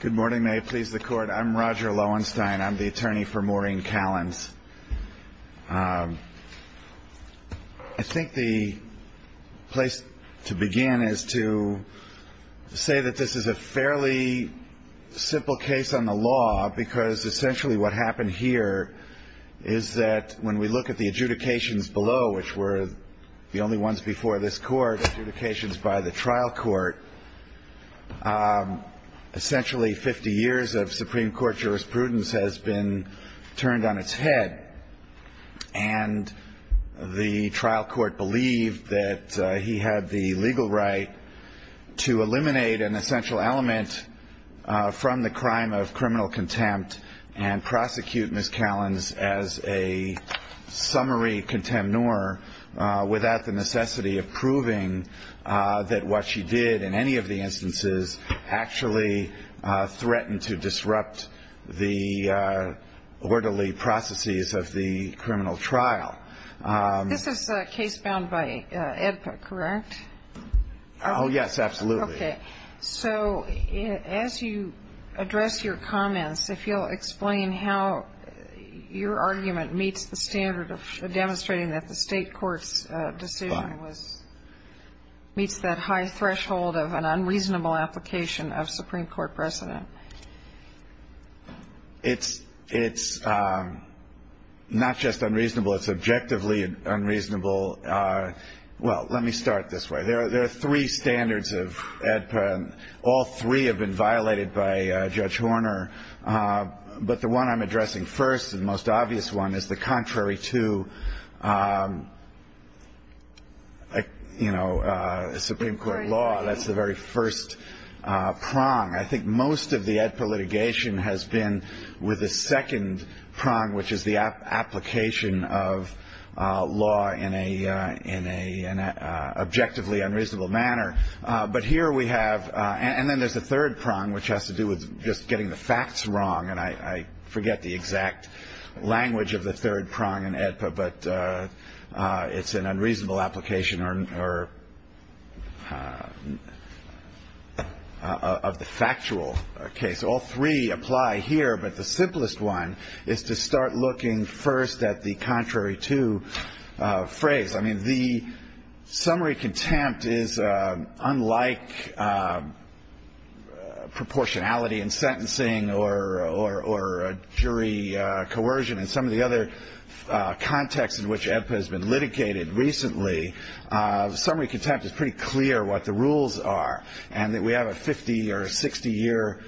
Good morning, may it please the court. I'm Roger Loewenstein. I'm the attorney for Maureen Kallins. I think the place to begin is to say that this is a fairly simple case on the law because essentially what happened here is that when we look at the adjudications below, which were the only ones before this court, adjudications by the trial court, essentially 50 years of Supreme Court jurisprudence has been turned on its head. And the trial court believed that he had the legal right to eliminate an essential element from the crime of criminal contempt and prosecute Ms. Kallins as a summary contemnor without the necessity of proving that what she did in any of the instances actually threatened to disrupt the orderly processes of the criminal trial. This is a case bound by AEDPA, correct? Oh yes, absolutely. Okay, so as you address your comments, if you'll explain how your argument meets the standard of demonstrating that the state court's decision meets that high threshold of an unreasonable application of Supreme Court precedent. It's not just unreasonable, it's objectively unreasonable. Well, let me start this way. There are three standards of AEDPA and all three have been violated by Judge Horner. But the one I'm addressing first, the most obvious one, is the contrary to Supreme Court law. That's the very first prong. I think most of the AEDPA litigation has been with the second prong, which is the application of law in an objectively unreasonable manner. And then there's the third prong, which has to do with just getting the facts wrong. And I forget the exact language of the third prong in AEDPA, but it's an unreasonable application of the factual case. All three apply here, but the simplest one is to start looking first at the contrary to phrase. I mean, the summary contempt is unlike proportionality in sentencing or jury coercion. In some of the other contexts in which AEDPA has been litigated recently, summary contempt is pretty clear what the rules are. And we have a 50- or 60-year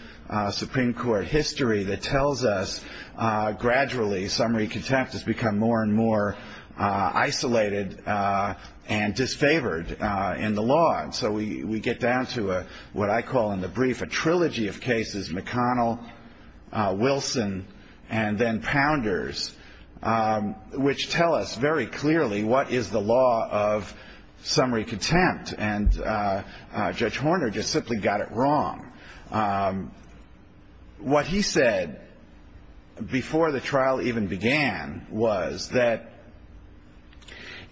Supreme Court history that tells us gradually summary contempt has become more and more isolated and disfavored in the law. And so we get down to what I call in the brief a trilogy of cases, McConnell, Wilson, and then Pounders, which tell us very clearly what is the law of summary contempt. And Judge Horner just simply got it wrong. What he said before the trial even began was that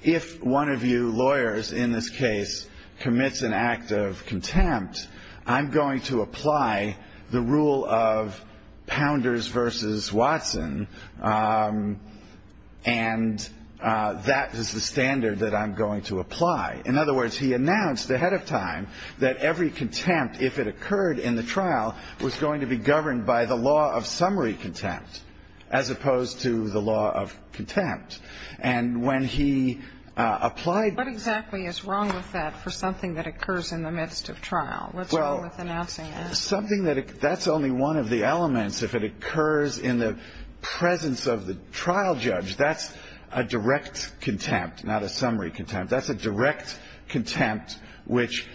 if one of you lawyers in this case commits an act of contempt, I'm going to apply the rule of Pounders v. Watson, and that is the standard that I'm going to apply. In other words, he announced ahead of time that every contempt, if it occurred in the trial, was going to be governed by the law of summary contempt as opposed to the law of contempt. And when he applied the rule of Pounders v. Watson, he said, What exactly is wrong with that for something that occurs in the midst of trial? What's wrong with announcing that? Well, something that's only one of the elements. If it occurs in the presence of the trial judge, that's a direct contempt, not a summary contempt. That's a direct contempt which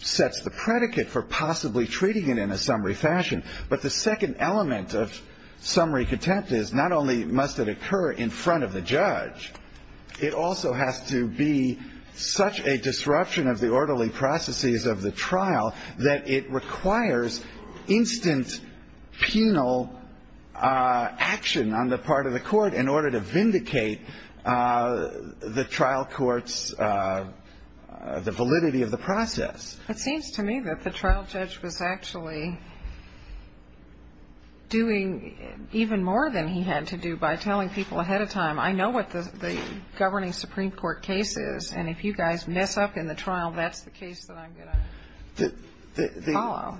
sets the predicate for possibly treating it in a summary fashion. But the second element of summary contempt is not only must it occur in front of the judge, it also has to be such a disruption of the orderly processes of the trial that it requires instant penal action on the part of the court in order to vindicate the trial court's validity of the process. It seems to me that the trial judge was actually doing even more than he had to do by telling people ahead of time, I know what the governing Supreme Court case is, and if you guys mess up in the trial, that's the case that I'm going to follow.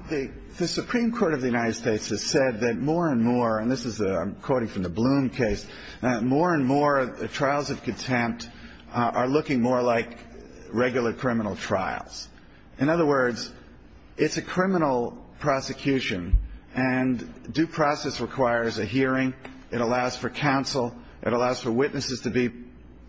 The Supreme Court of the United States has said that more and more, and this is, I'm quoting from the Bloom case, that more and more trials of contempt are looking more like regular criminal trials. In other words, it's a criminal prosecution, and due process requires a hearing. It allows for counsel. It allows for witnesses to be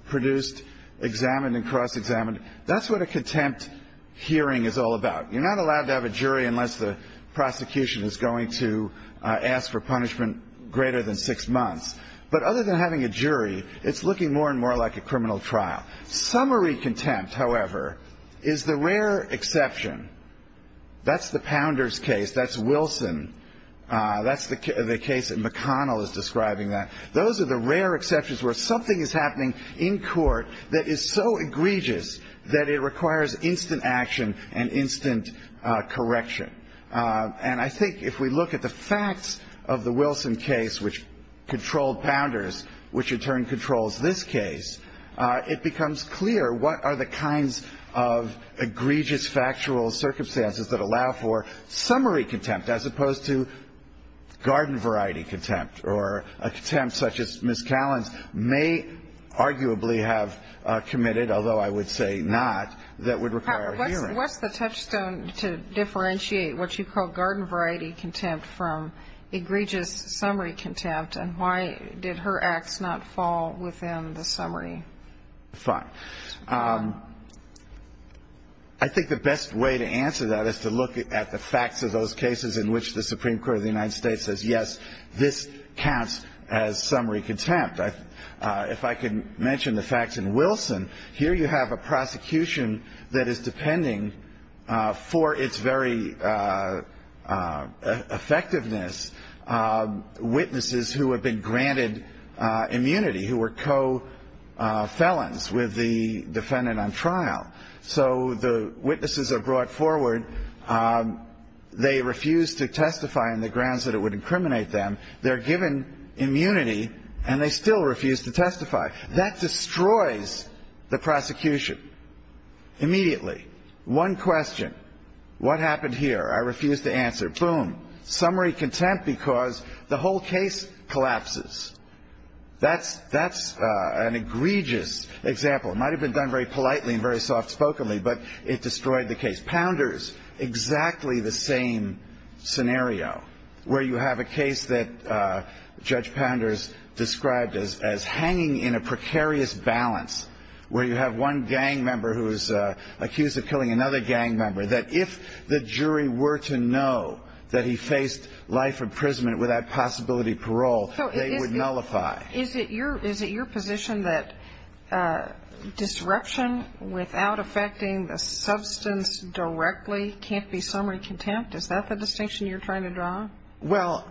produced, examined, and cross-examined. That's what a contempt hearing is all about. You're not allowed to have a jury unless the prosecution is going to ask for punishment greater than six months. But other than having a jury, it's looking more and more like a criminal trial. Summary contempt, however, is the rare exception. That's the Pounders case. That's Wilson. That's the case that McConnell is describing. Those are the rare exceptions where something is happening in court that is so egregious that it requires instant action and instant correction. And I think if we look at the facts of the Wilson case, which controlled Pounders, which in turn controls this case, it becomes clear what are the kinds of egregious factual circumstances that allow for summary contempt, as opposed to garden variety contempt, or a contempt such as Ms. Callan's may arguably have committed, although I would say not, that would require a hearing. What's the touchstone to differentiate what you call garden variety contempt from egregious summary contempt, and why did her acts not fall within the summary? Fine. I think the best way to answer that is to look at the facts of those cases in which the Supreme Court of the United States says, yes, this counts as summary contempt. If I can mention the facts in Wilson, here you have a prosecution that is depending for its very effectiveness, witnesses who have been granted immunity, who were co-felons with the defendant on trial. So the witnesses are brought forward. They refuse to testify on the grounds that it would incriminate them. They're given immunity, and they still refuse to testify. That destroys the prosecution immediately. One question, what happened here? I refuse to answer. Boom. Summary contempt because the whole case collapses. That's an egregious example. It might have been done very politely and very soft-spokenly, but it destroyed the case. Pounders, exactly the same scenario, where you have a case that Judge Pounders described as hanging in a precarious balance, where you have one gang member who is accused of killing another gang member, that if the jury were to know that he faced life imprisonment without possibility of parole, they would nullify. Is it your position that disruption without affecting the substance directly can't be summary contempt? Is that the distinction you're trying to draw? Well,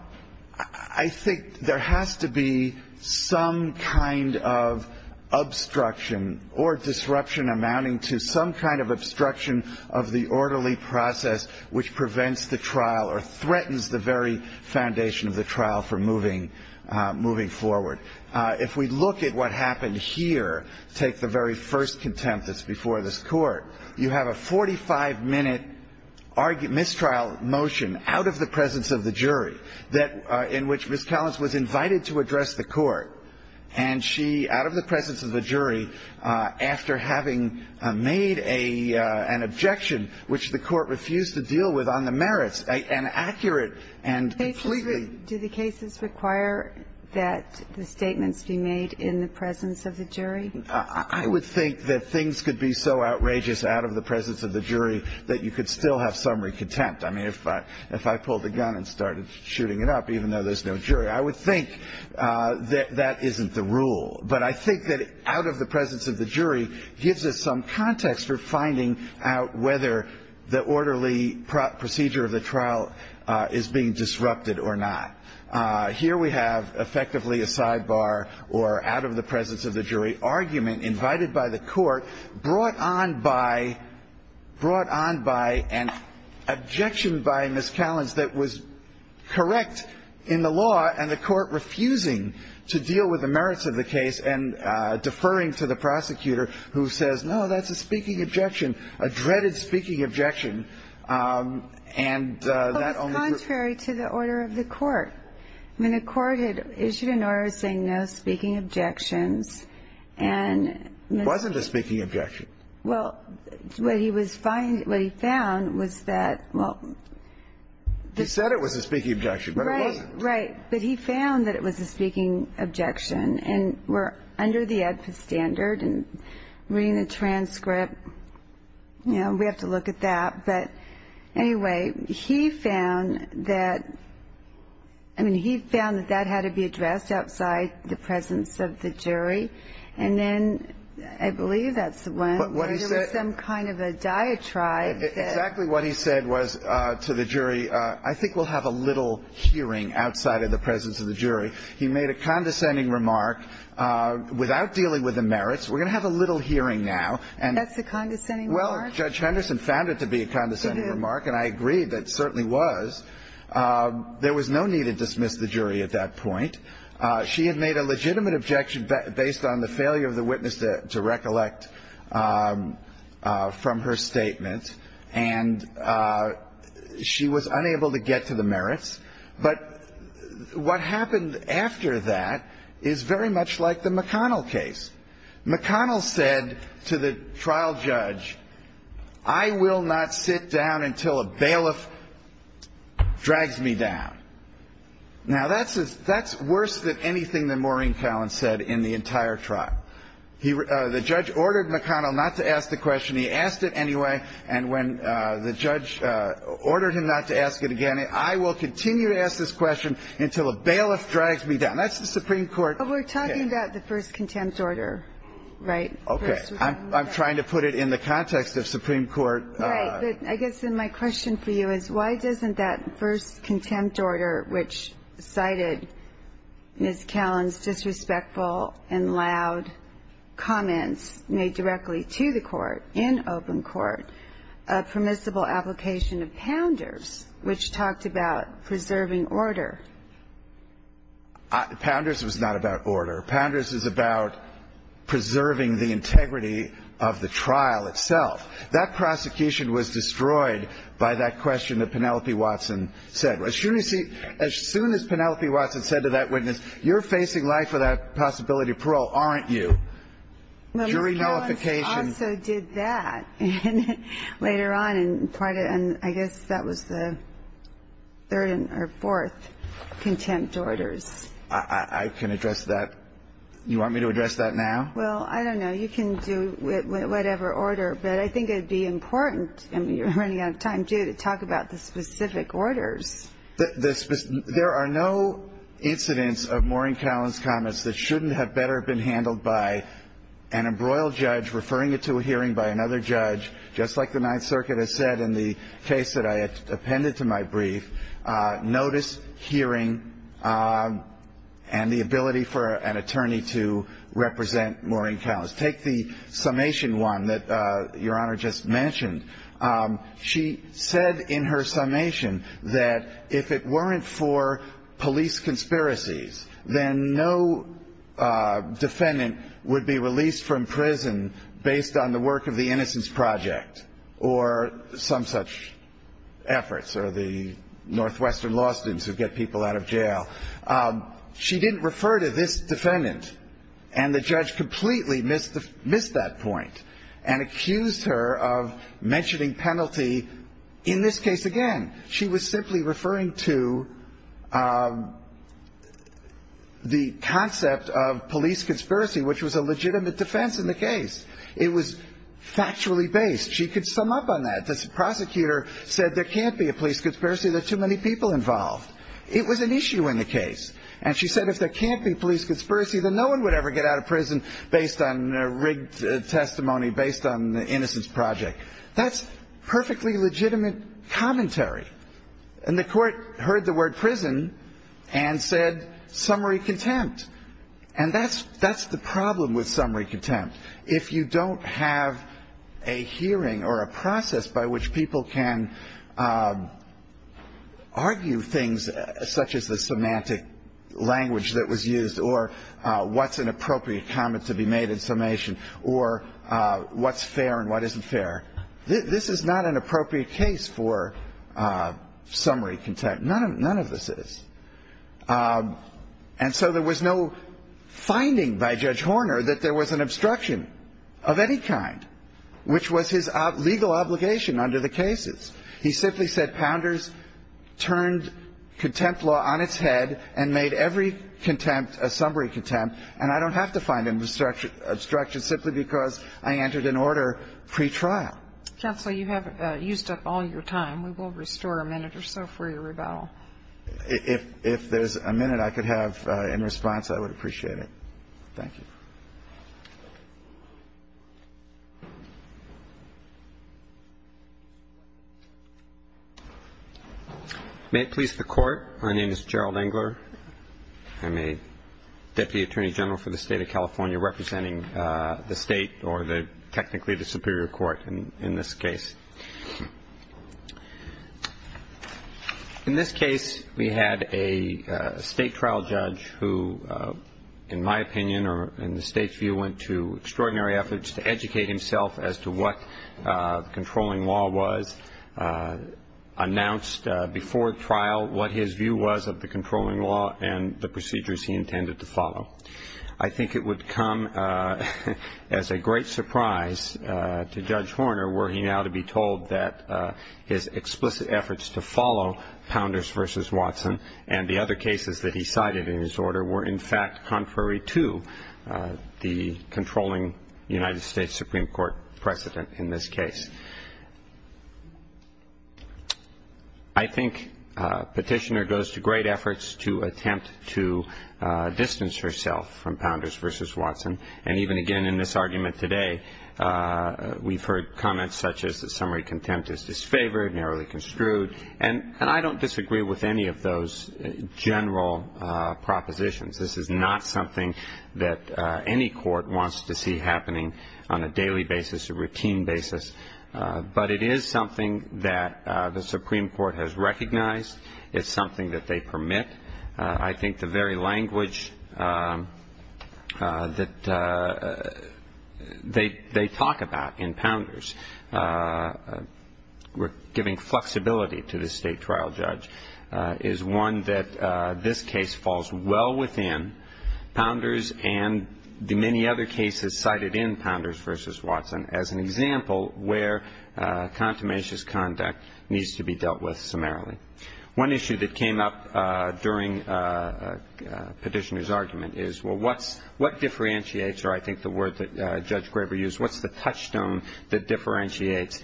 I think there has to be some kind of obstruction or disruption amounting to some kind of obstruction of the orderly process which prevents the trial or threatens the very foundation of the trial for moving forward. If we look at what happened here, take the very first contempt that's before this Court, you have a 45-minute mistrial motion out of the presence of the jury that in which Ms. Collins was invited to address the Court, and she, out of the presence of the jury, after having made an objection which the Court refused to deal with on the merits, an accurate and completely ---- Do the cases require that the statements be made in the presence of the jury? I would think that things could be so outrageous out of the presence of the jury that you could still have summary contempt. I mean, if I pulled a gun and started shooting it up, even though there's no jury, I would think that that isn't the rule. But I think that out of the presence of the jury gives us some context for finding out whether the orderly procedure of the trial is being disrupted or not. Here we have effectively a sidebar or out-of-the-presence-of-the-jury argument invited by the Court, brought on by an objection by Ms. Collins that was correct in the law and the Court refusing to deal with the merits of the case and deferring to the prosecutor who says, no, that's a speaking objection, a dreaded speaking objection, and that only ---- That's contrary to the order of the Court. I mean, the Court had issued an order saying, no, speaking objections, and ---- It wasn't a speaking objection. Well, what he was finding, what he found was that, well ---- He said it was a speaking objection, but it wasn't. Right, right. But he found that it was a speaking objection, and we're under the ADPA standard and reading the transcript, you know, we have to look at that. But anyway, he found that ---- I mean, he found that that had to be addressed outside the presence of the jury, and then I believe that's the one where there was some kind of a diatribe that ---- Exactly what he said was to the jury, I think we'll have a little hearing outside of the presence of the jury. He made a condescending remark, without dealing with the merits, we're going to have a little hearing now, and ---- That's a condescending remark? Well, Judge Henderson found it to be a condescending remark, and I agree that it certainly was. There was no need to dismiss the jury at that point. She had made a legitimate objection based on the failure of the witness to recollect from her statement, and she was unable to get to the merits. But what happened after that is very much like the McConnell case. McConnell said to the trial judge, I will not sit down until a bailiff drags me down. Now, that's worse than anything that Maureen Collins said in the entire trial. The judge ordered McConnell not to ask the question. He asked it anyway, and when the judge ordered him not to ask it again, I will continue to ask this question until a bailiff drags me down. That's the Supreme Court ---- Well, we're talking about the first contempt order, right? Okay. I'm trying to put it in the context of Supreme Court. Right. But I guess then my question for you is, why doesn't that first contempt order, which cited Ms. Collins' disrespectful and loud comments made directly to the court in open court, a permissible application of Pounders, which talked about preserving order? Pounders was not about order. Pounders is about preserving the integrity of the trial itself. That prosecution was destroyed by that question that Penelope Watson said. As soon as Penelope Watson said to that witness, you're facing life without possibility of parole, aren't you? Well, Ms. Collins also did that later on, and I guess that was the third or fourth contempt orders. I can address that. You want me to address that now? Well, I don't know. You can do whatever order, but I think it would be important, and you're running out of time, too, to talk about the specific orders. There are no incidents of Maureen Collins' comments that shouldn't have better been handled by an embroiled judge referring it to a hearing by another judge, just like the Ninth Circuit has said in the case that I appended to my brief, notice, hearing, and the ability for an attorney to represent Maureen Collins. Take the summation one that Your Honor just mentioned. She said in her summation that if it weren't for police conspiracies, then no defendant would be released from prison based on the work of the Innocence Project or some such efforts or the Northwestern law students who get people out of jail. She didn't refer to this defendant, and the judge completely missed that point and accused her of mentioning penalty in this case again. She was simply referring to the concept of police conspiracy, which was a legitimate defense in the case. It was factually based. She could sum up on that. The prosecutor said there can't be a police conspiracy. There are too many people involved. It was an issue in the case, and she said if there can't be police conspiracy, then no one would ever get out of prison based on rigged testimony based on the Innocence Project. That's perfectly legitimate commentary. And the Court heard the word prison and said summary contempt. And that's the problem with summary contempt. If you don't have a hearing or a process by which people can argue things such as the semantic language that was used or what's an appropriate comment to be made in summation or what's fair and what isn't fair, this is not an appropriate case for summary contempt. None of this is. And so there was no finding by Judge Horner that there was an obstruction of any kind, which was his legal obligation under the cases. He simply said Pounders turned contempt law on its head and made every contempt a summary contempt, and I don't have to find an obstruction simply because I entered an order pretrial. Counsel, you have used up all your time. We will restore a minute or so for your rebuttal. If there's a minute I could have in response, I would appreciate it. Thank you. May it please the Court. My name is Gerald Engler. I'm a Deputy Attorney General for the State of California, representing the State or technically the Superior Court in this case. In this case, we had a State trial judge who, in my opinion or in the State's view, went to extraordinary efforts to educate himself as to what controlling law was, announced before trial what his view was of the controlling law and the procedures he intended to follow. I think it would come as a great surprise to Judge Horner were he now to be told that his explicit efforts to follow Pounders v. Watson and the other cases that he cited in his order were, in fact, contrary to the controlling United States Supreme Court precedent in this case. I think Petitioner goes to great efforts to attempt to distance herself from Pounders v. Watson. And even, again, in this argument today, we've heard comments such as the summary contempt is disfavored, narrowly construed, and I don't disagree with any of those general propositions. This is not something that any court wants to see happening on a daily basis, a routine basis. But it is something that the Supreme Court has recognized. It's something that they permit. I think the very language that they talk about in Pounders, giving flexibility to the State trial judge, is one that this case falls well within Pounders and the many other cases cited in Pounders v. Watson. As an example, where contumacious conduct needs to be dealt with summarily. One issue that came up during Petitioner's argument is, well, what differentiates, or I think the word that Judge Graber used, what's the touchstone that differentiates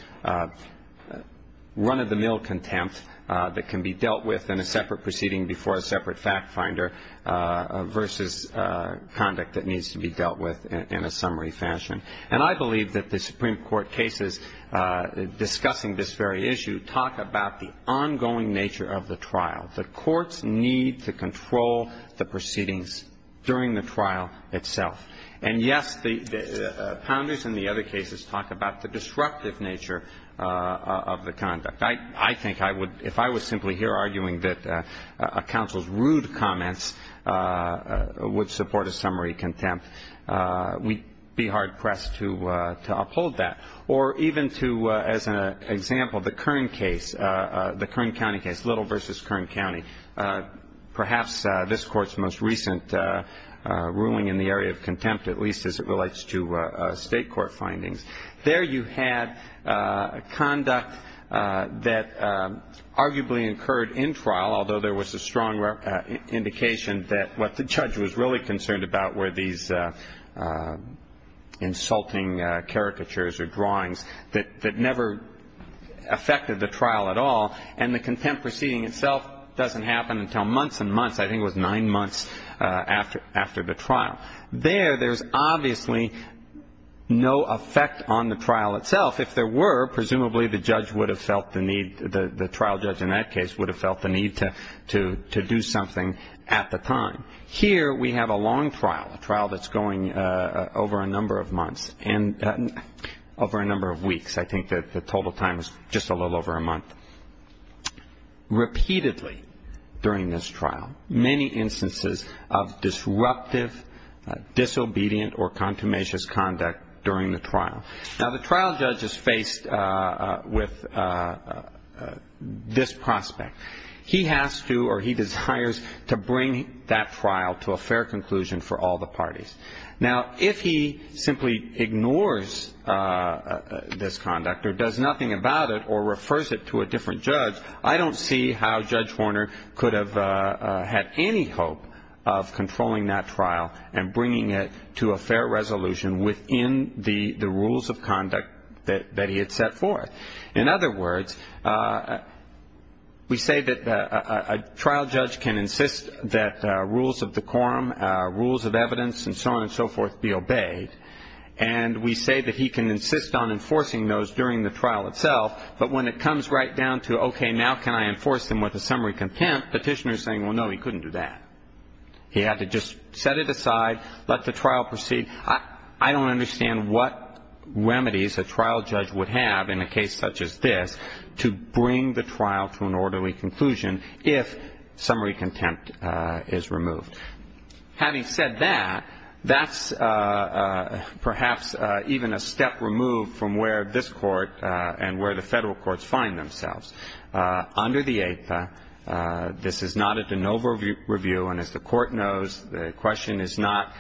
run-of-the-mill contempt that can be dealt with in a separate proceeding before a separate fact finder versus conduct that needs to be dealt with in a summary fashion. And I believe that the Supreme Court cases discussing this very issue talk about the ongoing nature of the trial. The courts need to control the proceedings during the trial itself. And, yes, Pounders and the other cases talk about the disruptive nature of the conduct. I think I would, if I was simply here arguing that a counsel's rude comments would support a summary contempt, we'd be hard-pressed to uphold that. Or even to, as an example, the Kern case, the Kern County case, Little v. Kern County, perhaps this Court's most recent ruling in the area of contempt, at least as it relates to State court findings. There you had conduct that arguably incurred in trial, although there was a strong indication that what the judge was really concerned about were these insulting caricatures or drawings that never affected the trial at all. And the contempt proceeding itself doesn't happen until months and months. I think it was nine months after the trial. There, there's obviously no effect on the trial itself. If there were, presumably the judge would have felt the need, the trial judge in that case, would have felt the need to do something at the time. Here we have a long trial, a trial that's going over a number of months and over a number of weeks. I think the total time is just a little over a month. Repeatedly during this trial, many instances of disruptive, disobedient, or contumacious conduct during the trial. Now, the trial judge is faced with this prospect. He has to or he desires to bring that trial to a fair conclusion for all the parties. Now, if he simply ignores this conduct or does nothing about it or refers it to a different judge, I don't see how Judge Horner could have had any hope of controlling that trial and bringing it to a fair resolution within the rules of conduct that he had set forth. In other words, we say that a trial judge can insist that rules of the quorum, rules of evidence, and so on and so forth, be obeyed. And we say that he can insist on enforcing those during the trial itself. But when it comes right down to, okay, now can I enforce them with a summary contempt, the petitioner is saying, well, no, he couldn't do that. He had to just set it aside, let the trial proceed. I don't understand what remedies a trial judge would have in a case such as this to bring the trial to an orderly conclusion if summary contempt is removed. Having said that, that's perhaps even a step removed from where this Court and where the federal courts find themselves. Under the Eighth, this is not a de novo review. And as the Court knows, the question is not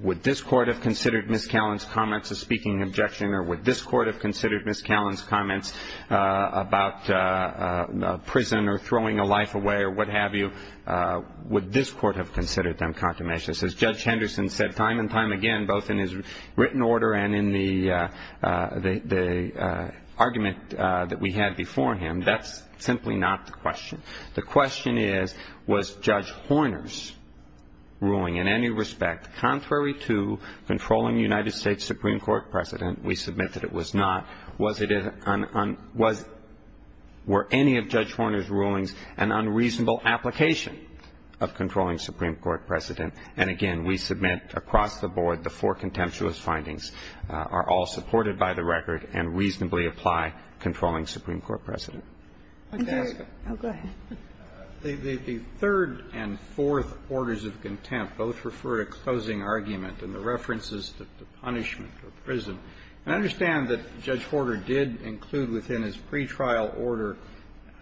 would this Court have considered Ms. Callan's comments a speaking objection or would this Court have considered Ms. Callan's comments about prison or throwing a life away or what have you. Would this Court have considered them contemmation? As Judge Henderson said time and time again, both in his written order and in the argument that we had before him, that's simply not the question. The question is, was Judge Horner's ruling in any respect contrary to controlling the United States Supreme Court president? We submit that it was not. Was it a un un was were any of Judge Horner's rulings an unreasonable application of controlling Supreme Court precedent? And again, we submit across the board the four contemptuous findings are all supported by the record and reasonably apply controlling Supreme Court precedent. The third and fourth orders of contempt both refer to closing argument and the references to punishment or prison. And I understand that Judge Horner did include within his pretrial order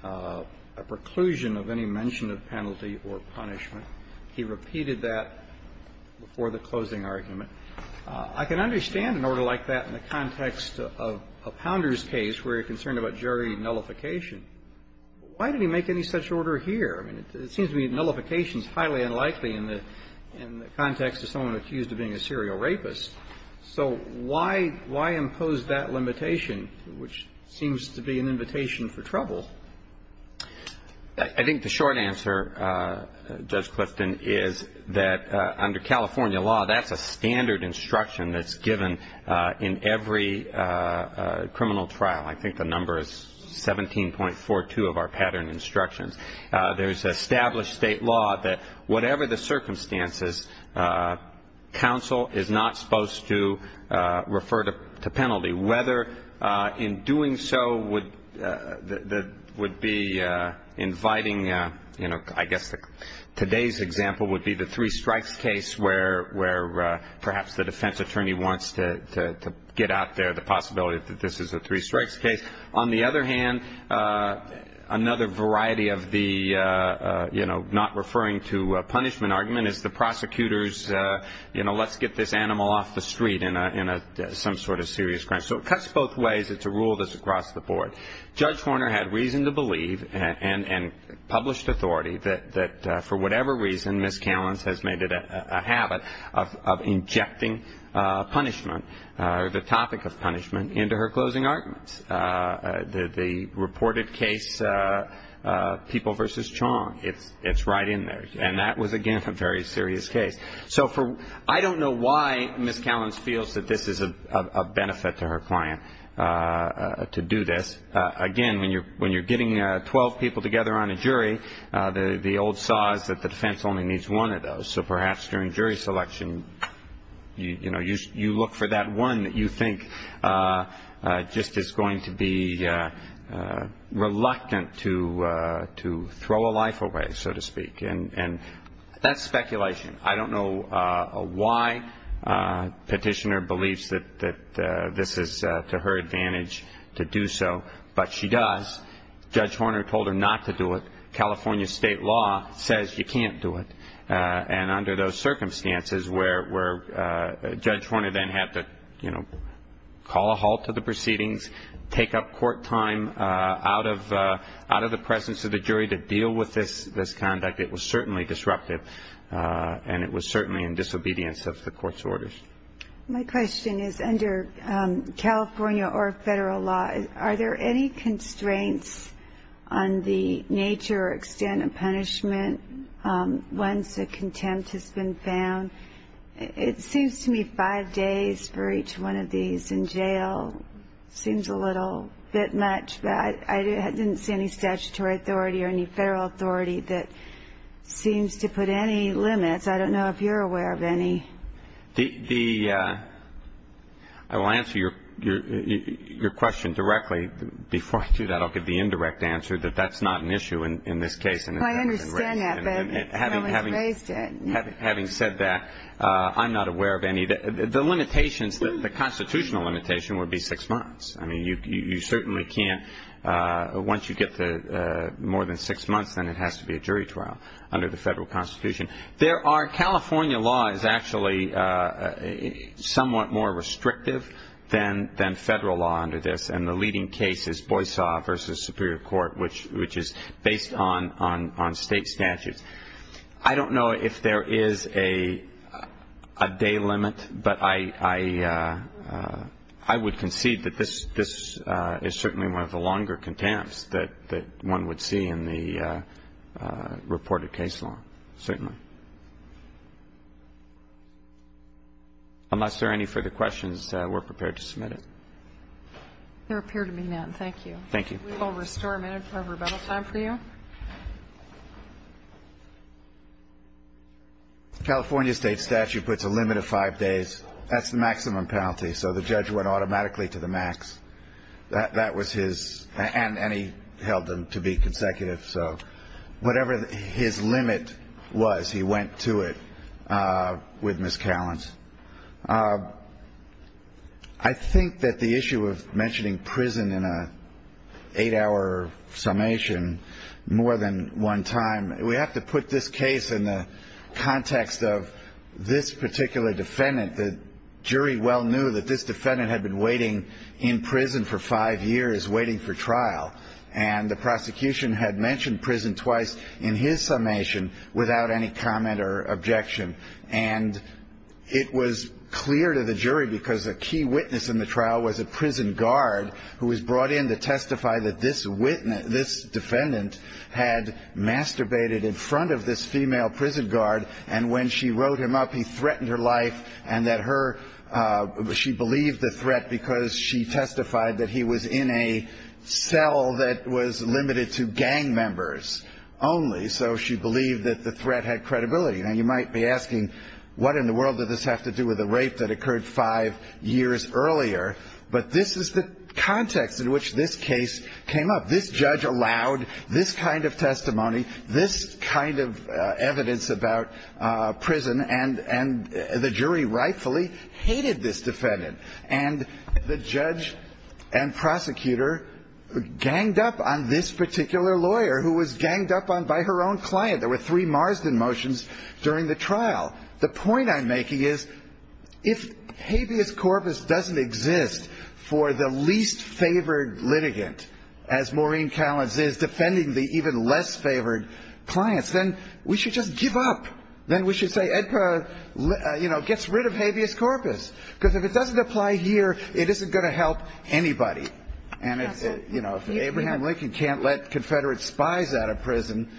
a preclusion of any mention of penalty or punishment. He repeated that for the closing argument. I can understand an order like that in the context of a Pounder's case where you're concerned about jury nullification. Why did he make any such order here? I mean, it seems to me nullification is highly unlikely in the context of someone accused of being a serial rapist. So why impose that limitation, which seems to be an invitation for trouble? I think the short answer, Judge Clifton, is that under California law, that's a standard instruction that's given in every criminal trial. I think the number is 17.42 of our pattern instructions. There's established state law that whatever the circumstances, counsel is not supposed to refer to penalty. Whether in doing so would be inviting, you know, I guess today's example would be the three strikes case where perhaps the defense attorney wants to get out there the possibility that this is a three strikes case. On the other hand, another variety of the, you know, not referring to punishment argument is the prosecutor's, you know, let's get this animal off the street in some sort of serious crime. So it cuts both ways. It's a rule that's across the board. Judge Horner had reason to believe and published authority that for whatever reason, Ms. Callins has made it a habit of injecting punishment or the topic of punishment into her closing arguments. The reported case, People v. Chong, it's right in there. And that was, again, a very serious case. So I don't know why Ms. Callins feels that this is a benefit to her client to do this. Again, when you're getting 12 people together on a jury, the old saw is that the defense only needs one of those. So perhaps during jury selection, you know, you look for that one that you think just is going to be reluctant to throw a life away, so to speak. And that's speculation. I don't know why Petitioner believes that this is to her advantage to do so, but she does. Judge Horner told her not to do it. California state law says you can't do it. And under those circumstances where Judge Horner then had to, you know, call a halt to the proceedings, take up court time out of the presence of the jury to deal with this conduct, it was certainly disruptive and it was certainly in disobedience of the court's orders. My question is under California or federal law, are there any constraints on the nature or extent of punishment once a contempt has been found? It seems to me five days for each one of these in jail seems a little bit much, but I didn't see any statutory authority or any federal authority that seems to put any limits. I don't know if you're aware of any. I will answer your question directly. Before I do that, I'll give the indirect answer that that's not an issue in this case. I understand that, but no one's raised it. Having said that, I'm not aware of any. The limitations, the constitutional limitation would be six months. I mean, you certainly can't, once you get to more than six months, then it has to be a jury trial under the federal constitution. California law is actually somewhat more restrictive than federal law under this, and the leading case is Boyce v. Superior Court, which is based on state statutes. I don't know if there is a day limit, but I would concede that this is certainly one of the longer contempts that one would see in the reported case law, certainly. Unless there are any further questions, we're prepared to submit it. There appear to be none. Thank you. Thank you. We will restore a minute of rebuttal time for you. The California state statute puts a limit of five days. That's the maximum penalty, so the judge went automatically to the max. That was his, and he held them to be consecutive. So whatever his limit was, he went to it with Ms. Callins. I think that the issue of mentioning prison in an eight-hour summation more than one time, we have to put this case in the context of this particular defendant. The jury well knew that this defendant had been waiting in prison for five years, waiting for trial, and the prosecution had mentioned prison twice in his summation without any comment or objection. And it was clear to the jury because a key witness in the trial was a prison guard who was brought in to testify that this defendant had masturbated in front of this female prison guard, and when she wrote him up, he threatened her life and that she believed the threat because she testified that he was in a cell that was limited to gang members only, so she believed that the threat had credibility. Now, you might be asking, what in the world did this have to do with the rape that occurred five years earlier? But this is the context in which this case came up. This judge allowed this kind of testimony, this kind of evidence about prison, and the jury rightfully hated this defendant. And the judge and prosecutor ganged up on this particular lawyer who was ganged up on by her own client. There were three Marsden motions during the trial. The point I'm making is if habeas corpus doesn't exist for the least favored litigant, as Maureen Callins is defending the even less favored clients, then we should just give up. Then we should say EDPA, you know, gets rid of habeas corpus because if it doesn't apply here, it isn't going to help anybody. And, you know, if Abraham Lincoln can't let Confederate spies out of prison,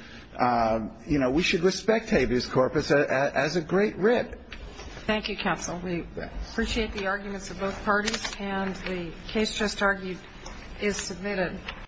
you know, we should respect habeas corpus as a great writ. Thank you, counsel. We appreciate the arguments of both parties. And the case just argued is submitted.